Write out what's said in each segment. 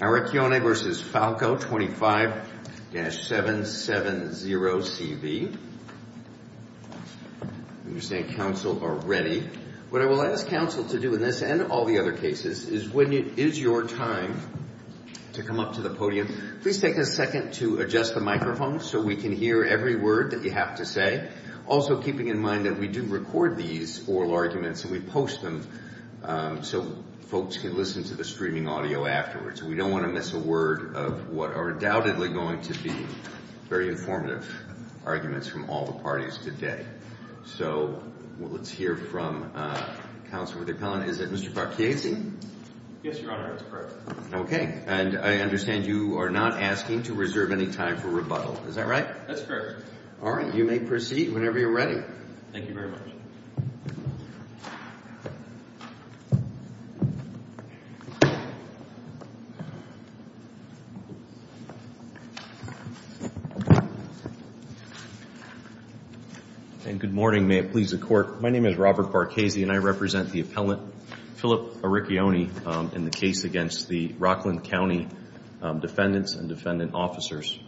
Aurecchione v. Falco, 25-770CV. I understand Council are ready. What I will ask Council to do in this and all the other cases is when it is your time to come up to the podium, please take a second to adjust the microphone so we can hear every word that you have to say, also keeping in mind that we do record these oral arguments and we post them so folks can listen to the streaming audio afterwards. We don't want to miss a word of what are undoubtedly going to be very informative arguments from all the parties today. So let's hear from Council. Is that Mr. Parchiesi? Yes, Your Honor, that's correct. Okay, and I understand you are not asking to reserve any time for rebuttal. Is that right? That's correct. All right. You may proceed whenever you're ready. Thank you very much. And good morning. May it please the Court. My name is Robert Parchiesi and I represent the appellant, Philip Aurecchione, in the case against the Rockland County defendants and defendant officers.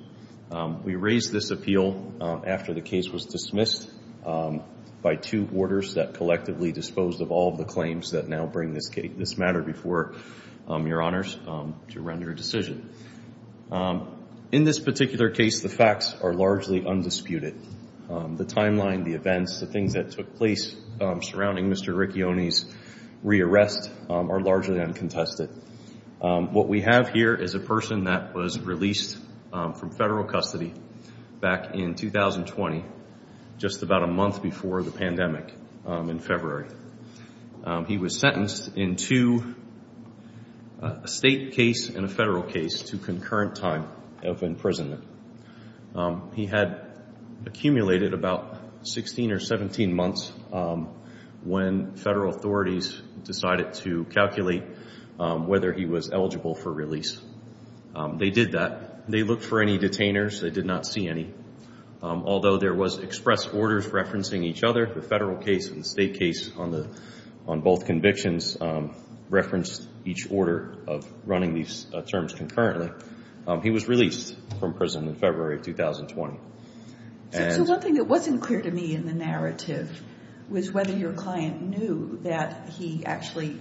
We raised this appeal after the case was dismissed by two boarders that collectively disposed of all of the claims that now bring this matter before Your Honors to render a decision. In this particular case, the facts are largely undisputed. The timeline, the events, the things that took place surrounding Mr. Aurecchione's re-arrest are largely uncontested. What we have here is a person that was released from federal custody back in 2020, just about a month before the pandemic in February. He was sentenced in two, a state case and a federal case, to concurrent time of imprisonment. He had accumulated about 16 or 17 months when federal authorities decided to calculate whether he was eligible for release. They did that. They looked for any detainers. They did not see any. Although there was express orders referencing each other, the federal case and the state case on both convictions referenced each order of running these terms concurrently. He was released from prison in February of 2020. So one thing that wasn't clear to me in the narrative was whether your client knew that he actually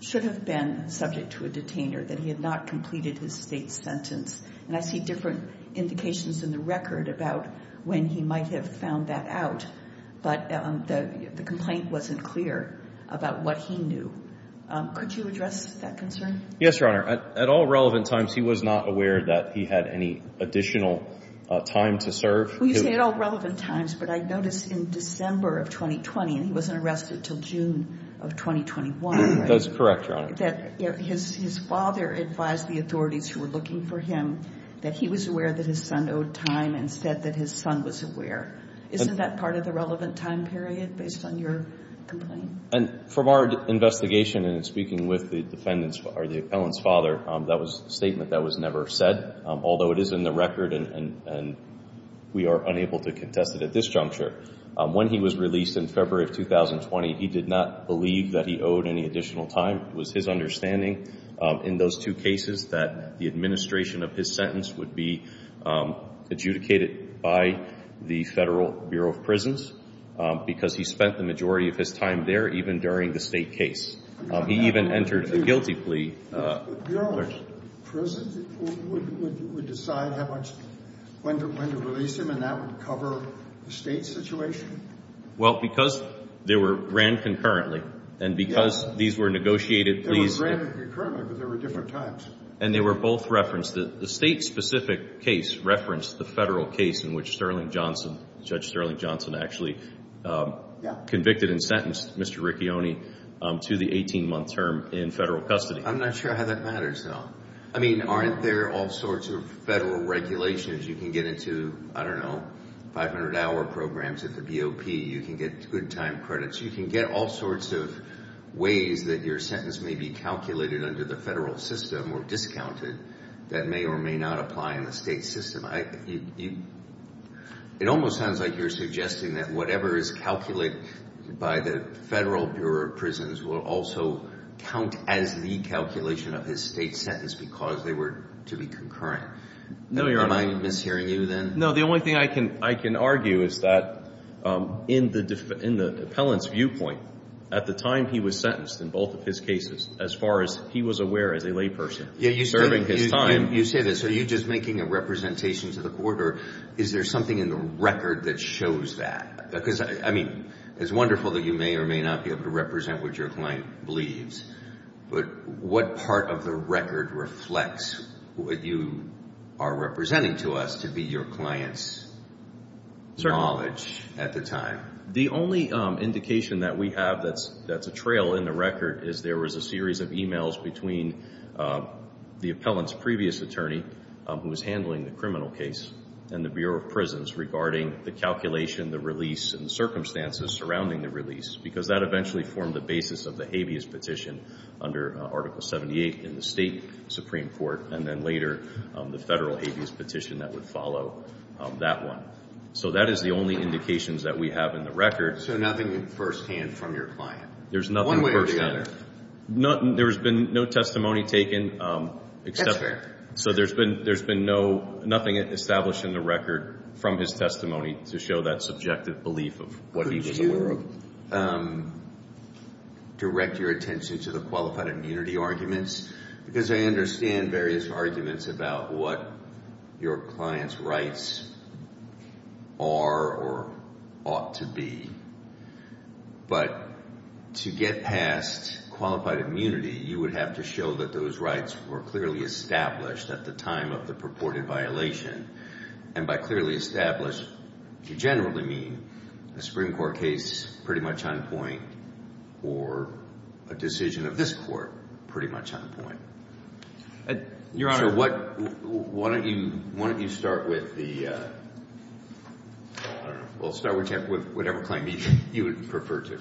should have been subject to a detainer, that he had not completed his state sentence. And I see different indications in the record about when he might have found that out, but the complaint wasn't clear about what he knew. Could you address that concern? Yes, Your Honor. At all relevant times, he was not aware that he had any additional time to serve. You say at all relevant times, but I noticed in December of 2020, and he wasn't arrested until June of 2021, right? That's correct, Your Honor. That his father advised the authorities who were looking for him that he was aware that his son owed time and said that his son was aware. Isn't that part of the relevant time period based on your complaint? And from our investigation and speaking with the defendant's or the appellant's father, that was a statement that was never said, although it is in the record and we are unable to contest it at this juncture. When he was released in February of 2020, he did not believe that he owed any additional time. It was his understanding in those two cases that the administration of his sentence would be adjudicated by the Federal Bureau of Prisons because he spent the majority of his time there, even during the state case. He even entered a guilty plea. The Bureau of Prisons would decide how much, when to release him, and that would cover the state situation? Well, because they were ran concurrently and because these were negotiated. They were ran concurrently, but there were different times. And they were both referenced. The state-specific case referenced the federal case in which Sterling Johnson, Judge Sterling Johnson, actually convicted and sentenced Mr. Ricchioni to the 18-month term in federal custody. I'm not sure how that matters, though. I mean, aren't there all sorts of federal regulations? You can get into, I don't know, 500-hour programs at the BOP. You can get good time credits. You can get all sorts of ways that your sentence may be calculated under the federal system or discounted that may or may not apply in the state system. It almost sounds like you're suggesting that whatever is calculated by the Federal Bureau of Prisons will also count as the calculation of his state sentence because they were to be concurrent. Am I mishearing you, then? No, the only thing I can argue is that in the appellant's viewpoint, at the time he was sentenced in both of his cases, as far as he was aware as a layperson serving his time. You say this. Are you just making a representation to the court, or is there something in the record that shows that? Because, I mean, it's wonderful that you may or may not be able to represent what your client believes, but what part of the record reflects what you are representing to us to be your client's knowledge at the time? The only indication that we have that's a trail in the record is there was a series of e-mails between the appellant's previous attorney, who was handling the criminal case, and the Bureau of Prisons regarding the calculation, the release, and the circumstances surrounding the release because that eventually formed the basis of the habeas petition under Article 78 in the State Supreme Court and then later the Federal habeas petition that would follow that one. So that is the only indications that we have in the record. So nothing firsthand from your client? There's nothing firsthand. One way or the other? There's been no testimony taken. That's fair. So there's been nothing established in the record from his testimony to show that subjective belief of what he was aware of. I will direct your attention to the qualified immunity arguments because I understand various arguments about what your client's rights are or ought to be. But to get past qualified immunity, you would have to show that those rights were clearly established at the time of the purported violation. And by clearly established, you generally mean a Supreme Court case pretty much on point or a decision of this Court pretty much on point. Your Honor. So why don't you start with the, I don't know, we'll start with whatever claim you would prefer to.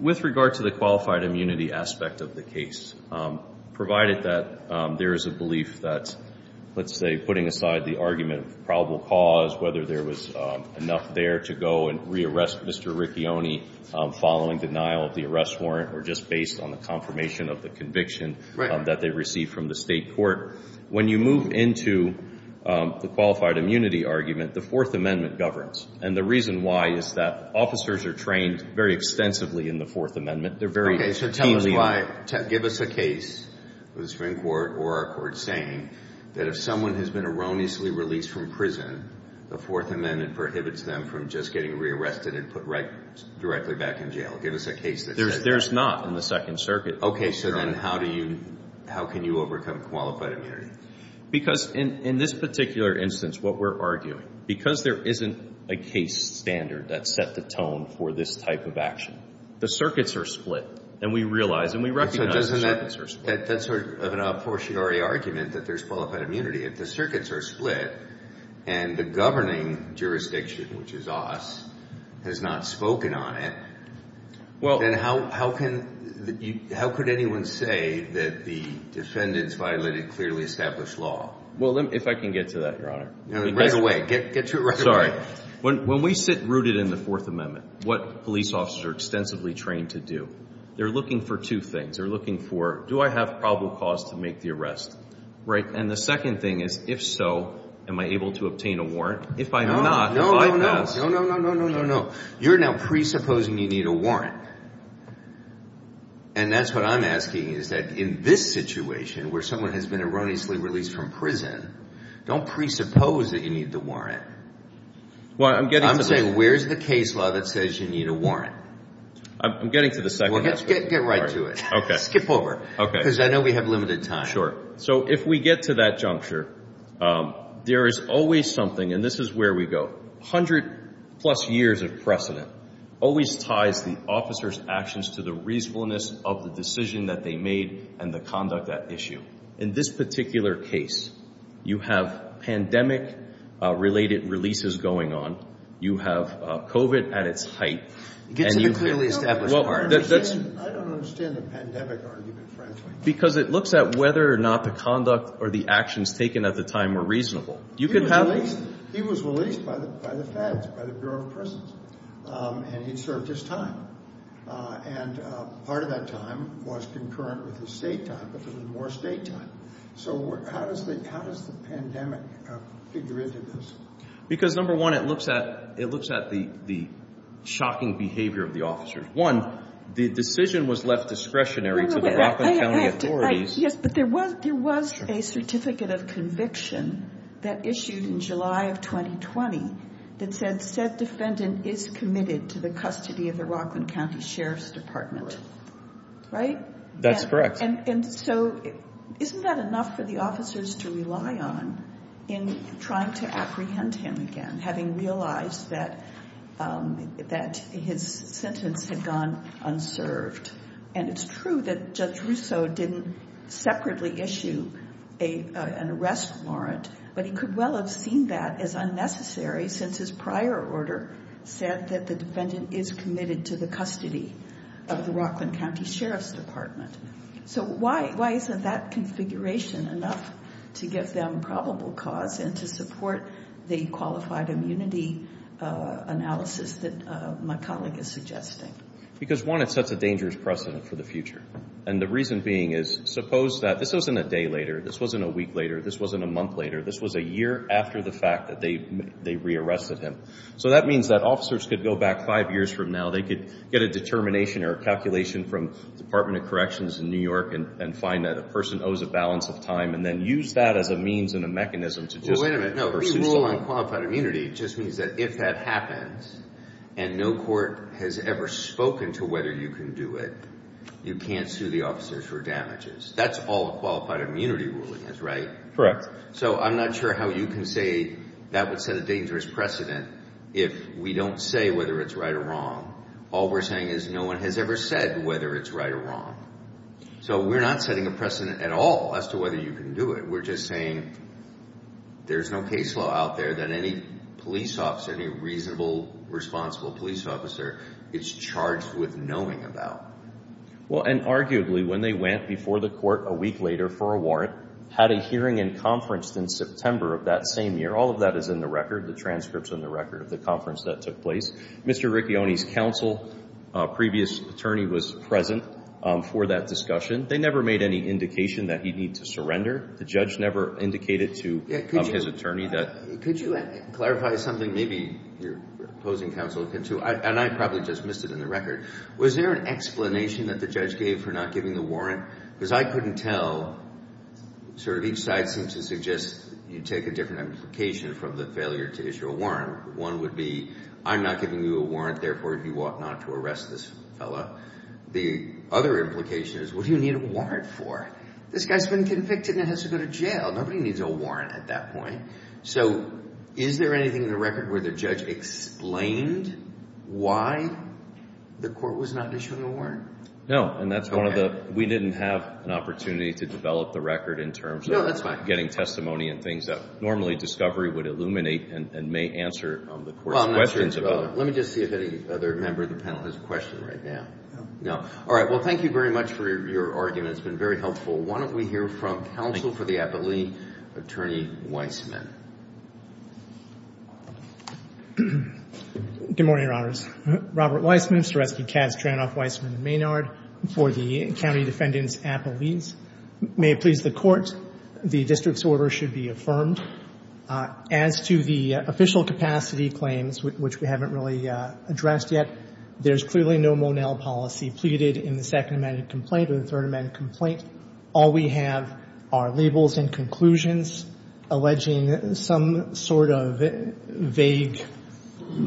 With regard to the qualified immunity aspect of the case, provided that there is a belief that, let's say, putting aside the argument of probable cause, whether there was enough there to go and re-arrest Mr. Ricchioni following denial of the arrest warrant or just based on the confirmation of the conviction that they received from the State court, when you move into the qualified immunity argument, the Fourth Amendment governs. And the reason why is that officers are trained very extensively in the Fourth Amendment. Okay. So tell me why. Give us a case with a Supreme Court or a court saying that if someone has been erroneously released from prison, the Fourth Amendment prohibits them from just getting re-arrested and put directly back in jail. Give us a case that says that. There's not in the Second Circuit. Okay. So then how do you, how can you overcome qualified immunity? Because in this particular instance, what we're arguing, because there isn't a case standard that set the tone for this type of action, the circuits are split and we realize and we recognize the circuits are split. That's sort of an apportionary argument that there's qualified immunity. If the circuits are split and the governing jurisdiction, which is us, has not spoken on it, then how can, how could anyone say that the defendants violated clearly established law? Well, if I can get to that, Your Honor. Right away. Get to it right away. Sorry. When we sit rooted in the Fourth Amendment, what police officers are extensively trained to do, they're looking for two things. They're looking for do I have probable cause to make the arrest, right? And the second thing is if so, am I able to obtain a warrant? If I'm not, do I pass? No, no, no, no, no, no, no, no, no. You're now presupposing you need a warrant. And that's what I'm asking is that in this situation where someone has been erroneously released from prison, don't presuppose that you need the warrant. I'm saying where's the case law that says you need a warrant? I'm getting to the second part. Well, get right to it. Skip over. Okay. Because I know we have limited time. So if we get to that juncture, there is always something, and this is where we go, 100 plus years of precedent always ties the officers' actions to the reasonableness of the decision that they made and the conduct at issue. In this particular case, you have pandemic-related releases going on. You have COVID at its height. Get to the clearly established part. I don't understand the pandemic argument, frankly. Because it looks at whether or not the conduct or the actions taken at the time were reasonable. He was released. He was released by the Feds, by the Bureau of Prisons, and he'd served his time. And part of that time was concurrent with his state time, but there was more state time. So how does the pandemic figure into this? Because, number one, it looks at the shocking behavior of the officers. One, the decision was left discretionary to the Rockland County authorities. Yes, but there was a certificate of conviction that issued in July of 2020 that said said defendant is committed to the custody of the Rockland County Sheriff's Department. Right? That's correct. And so isn't that enough for the officers to rely on in trying to apprehend him again, having realized that his sentence had gone unserved? And it's true that Judge Russo didn't separately issue an arrest warrant, but he could well have seen that as unnecessary since his prior order said that the defendant is committed to the custody of the Rockland County Sheriff's Department. So why isn't that configuration enough to give them probable cause and to support the qualified immunity analysis that my colleague is suggesting? Because, one, it sets a dangerous precedent for the future. And the reason being is suppose that this wasn't a day later. This wasn't a week later. This wasn't a month later. This was a year after the fact that they re-arrested him. So that means that officers could go back five years from now. They could get a determination or a calculation from the Department of Corrections in New York and find that a person owes a balance of time and then use that as a means and a mechanism to just pursue something. Wait a minute. No, we rule on qualified immunity. It just means that if that happens and no court has ever spoken to whether you can do it, you can't sue the officers for damages. That's all a qualified immunity ruling is, right? Correct. So I'm not sure how you can say that would set a dangerous precedent if we don't say whether it's right or wrong. All we're saying is no one has ever said whether it's right or wrong. So we're not setting a precedent at all as to whether you can do it. We're just saying there's no case law out there that any police officer, any reasonable, responsible police officer is charged with knowing about. Well, and arguably when they went before the court a week later for a warrant, had a hearing and conference in September of that same year, all of that is in the record. The transcript's in the record of the conference that took place. Mr. Ricchioni's counsel, previous attorney, was present for that discussion. They never made any indication that he'd need to surrender. The judge never indicated to his attorney that. Could you clarify something? Maybe your opposing counsel can, too, and I probably just missed it in the record. Was there an explanation that the judge gave for not giving the warrant? Because I couldn't tell. Sort of each side seems to suggest you take a different implication from the failure to issue a warrant. One would be I'm not giving you a warrant, therefore, you ought not to arrest this fellow. The other implication is what do you need a warrant for? This guy's been convicted and has to go to jail. Nobody needs a warrant at that point. So is there anything in the record where the judge explained why the court was not issuing a warrant? No, and that's one of the we didn't have an opportunity to develop the record in terms of getting testimony and things that normally discovery would illuminate and may answer the court's questions about. Let me just see if any other member of the panel has a question right now. No. All right. Well, thank you very much for your argument. It's been very helpful. Why don't we hear from counsel for the appellee, Attorney Weissman. Good morning, Your Honors. Robert Weissman, Storesky-Katz, Dranoff, Weissman, and Maynard for the County Defendant's Appellees. May it please the Court, the district's order should be affirmed. As to the official capacity claims, which we haven't really addressed yet, there's clearly no Monell policy pleaded in the Second Amendment complaint or the Third Amendment complaint. All we have are labels and conclusions alleging some sort of vague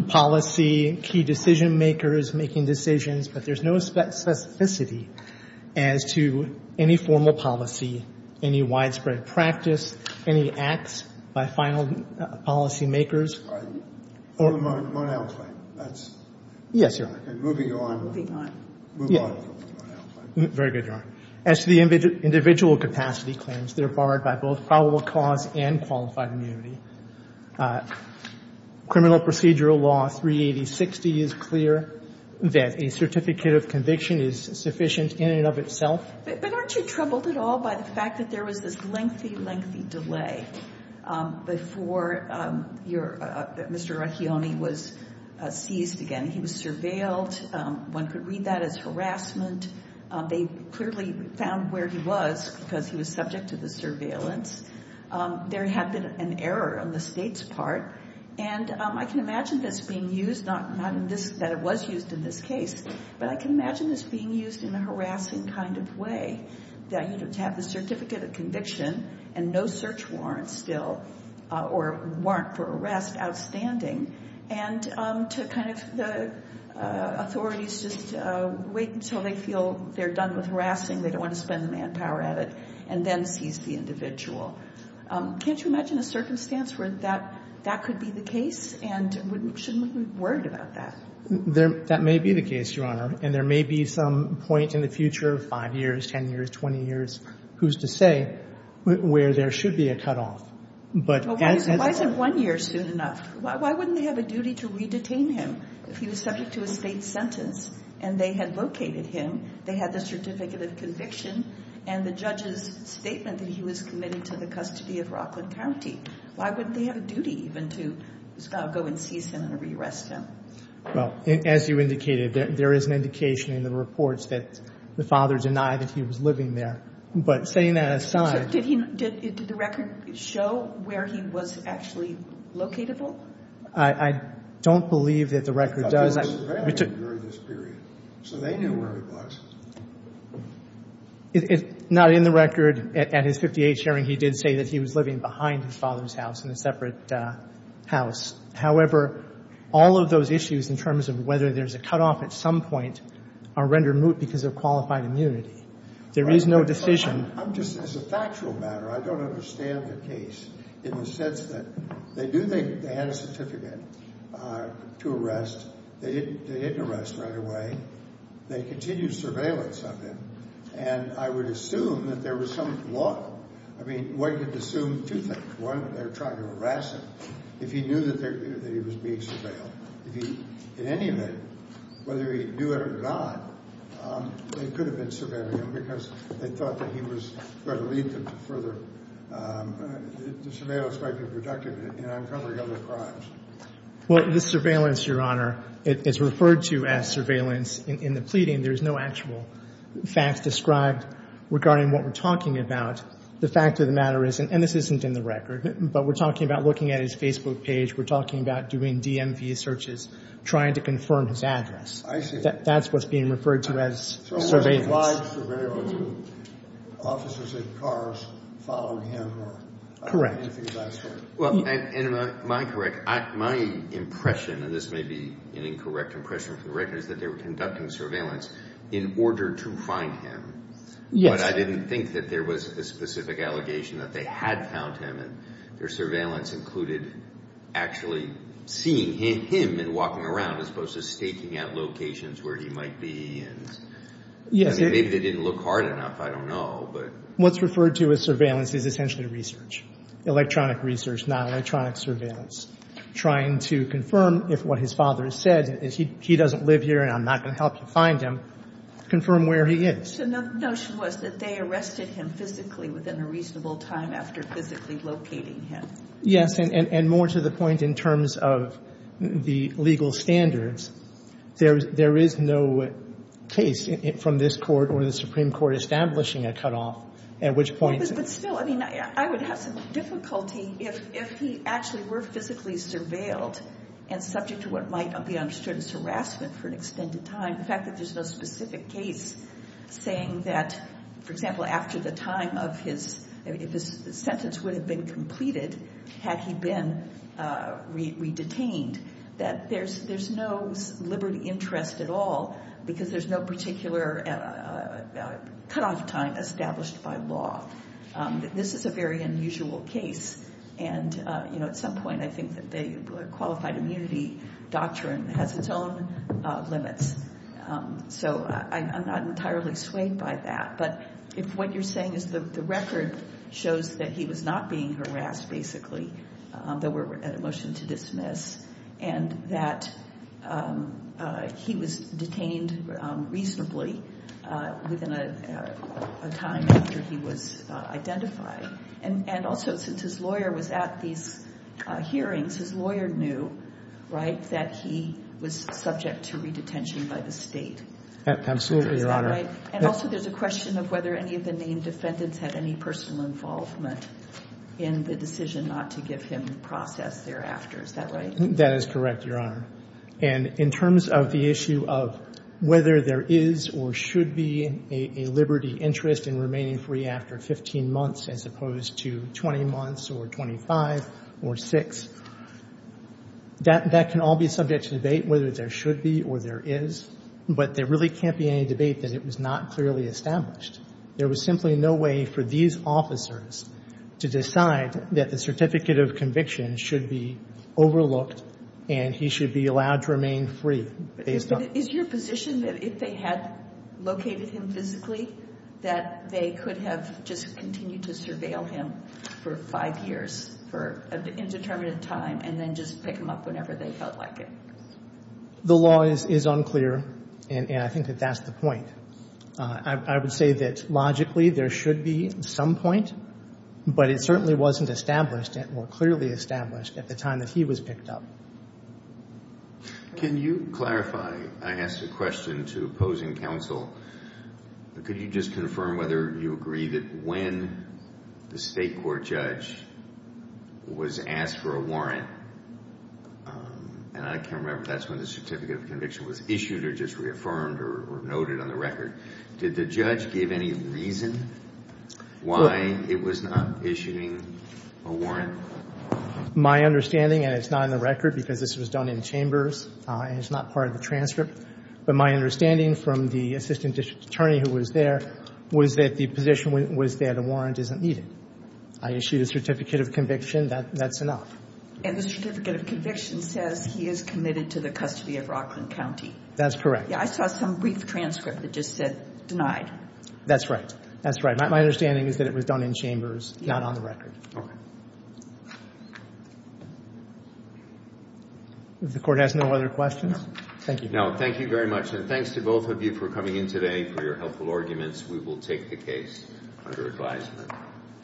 policy, key decision-makers making decisions, but there's no specificity as to any formal policy, any widespread practice, any acts by final policy-makers. The Monell claim. Yes, Your Honor. Moving on. Moving on. Yes. Very good, Your Honor. As to the individual capacity claims, they're barred by both probable cause and qualified immunity. Criminal procedural law 38060 is clear that a certificate of conviction is sufficient in and of itself. But aren't you troubled at all by the fact that there was this lengthy, lengthy delay before Mr. Accioni was seized again? He was surveilled. One could read that as harassment. They clearly found where he was because he was subject to the surveillance. There had been an error on the State's part. And I can imagine this being used, not that it was used in this case, but I can imagine this being used in a harassing kind of way, that, you know, to have the certificate of conviction and no search warrant still or warrant for arrest outstanding and to kind of the authorities just wait until they feel they're done with harassing, they don't want to spend manpower at it, and then seize the individual. Can't you imagine a circumstance where that could be the case? And shouldn't we be worried about that? That may be the case, Your Honor. And there may be some point in the future, 5 years, 10 years, 20 years, who's to say, where there should be a cutoff. Why isn't one year soon enough? Why wouldn't they have a duty to re-detain him if he was subject to a State sentence and they had located him, they had the certificate of conviction, and the judge's statement that he was committed to the custody of Rockland County? Why wouldn't they have a duty even to go and seize him and re-arrest him? Well, as you indicated, there is an indication in the reports that the father denied that he was living there. But setting that aside. So did the record show where he was actually locatable? I don't believe that the record does. I thought they were surveilling him during this period, so they knew where he was. Not in the record. At his 58th hearing, he did say that he was living behind his father's house in a separate house. However, all of those issues in terms of whether there's a cutoff at some point are rendered moot because of qualified immunity. There is no decision. I'm just, as a factual matter, I don't understand the case in the sense that they do think they had a certificate to arrest. They didn't arrest right away. They continued surveillance of him. And I would assume that there was some flaw. I mean, one could assume two things. One, they were trying to arrest him. If he knew that he was being surveilled. If he, in any event, whether he knew it or not, they could have been surveilling him because they thought that he was going to lead them to further, the surveillance might be productive in uncovering other crimes. Well, the surveillance, Your Honor, is referred to as surveillance in the pleading. There's no actual facts described regarding what we're talking about. The fact of the matter is, and this isn't in the record, but we're talking about looking at his Facebook page. We're talking about doing DMV searches, trying to confirm his address. I see. That's what's being referred to as surveillance. So it was a live surveillance of officers in cars following him or anything of that sort. Well, and am I correct? My impression, and this may be an incorrect impression for the record, is that they were conducting surveillance in order to find him. Yes. But I didn't think that there was a specific allegation that they had found him. Their surveillance included actually seeing him and walking around as opposed to staking out locations where he might be. Yes. Maybe they didn't look hard enough. I don't know. What's referred to as surveillance is essentially research, electronic research, not electronic surveillance, trying to confirm if what his father said is he doesn't live here and I'm not going to help you find him, confirm where he is. The notion was that they arrested him physically within a reasonable time after physically locating him. And more to the point in terms of the legal standards, there is no case from this Court or the Supreme Court establishing a cutoff, at which point... But still, I mean, I would have some difficulty if he actually were physically surveilled and subject to what might be understood as harassment for an extended time. And the fact that there's no specific case saying that, for example, after the time of his... If his sentence would have been completed had he been re-detained, that there's no liberty interest at all because there's no particular cutoff time established by law. This is a very unusual case. And at some point I think that the qualified immunity doctrine has its own limits. So I'm not entirely swayed by that. But if what you're saying is the record shows that he was not being harassed, basically, that we're at a motion to dismiss, and that he was detained reasonably within a time after he was identified. And also, since his lawyer was at these hearings, his lawyer knew, right, that he was subject to re-detention by the State. Absolutely, Your Honor. Is that right? And also there's a question of whether any of the named defendants had any personal involvement in the decision not to give him the process thereafter. Is that right? That is correct, Your Honor. And in terms of the issue of whether there is or should be a liberty interest in remaining free after 15 months as opposed to 20 months or 25 or 6, that can all be subject to debate whether there should be or there is. But there really can't be any debate that it was not clearly established. There was simply no way for these officers to decide that the certificate of conviction should be overlooked and he should be allowed to remain free based on the fact that they could have just continued to surveil him for five years for an indeterminate time and then just pick him up whenever they felt like it. The law is unclear, and I think that that's the point. I would say that logically there should be some point, but it certainly wasn't established or clearly established at the time that he was picked up. Can you clarify? I asked a question to opposing counsel. Could you just confirm whether you agree that when the State court judge was asked for a warrant, and I can't remember if that's when the certificate of conviction was issued or just reaffirmed or noted on the record, did the judge give any reason why it was not issuing a warrant? My understanding, and it's not in the record because this was done in chambers and it's not part of the transcript, but my understanding from the assistant district attorney who was there was that the position was that a warrant isn't needed. I issued a certificate of conviction. That's enough. And the certificate of conviction says he is committed to the custody of Rockland County. That's correct. I saw some brief transcript that just said denied. That's right. That's right. My understanding is that it was done in chambers, not on the record. Okay. If the Court has no other questions, thank you. Thank you very much. And thanks to both of you for coming in today for your helpful arguments. We will take the case under advisement.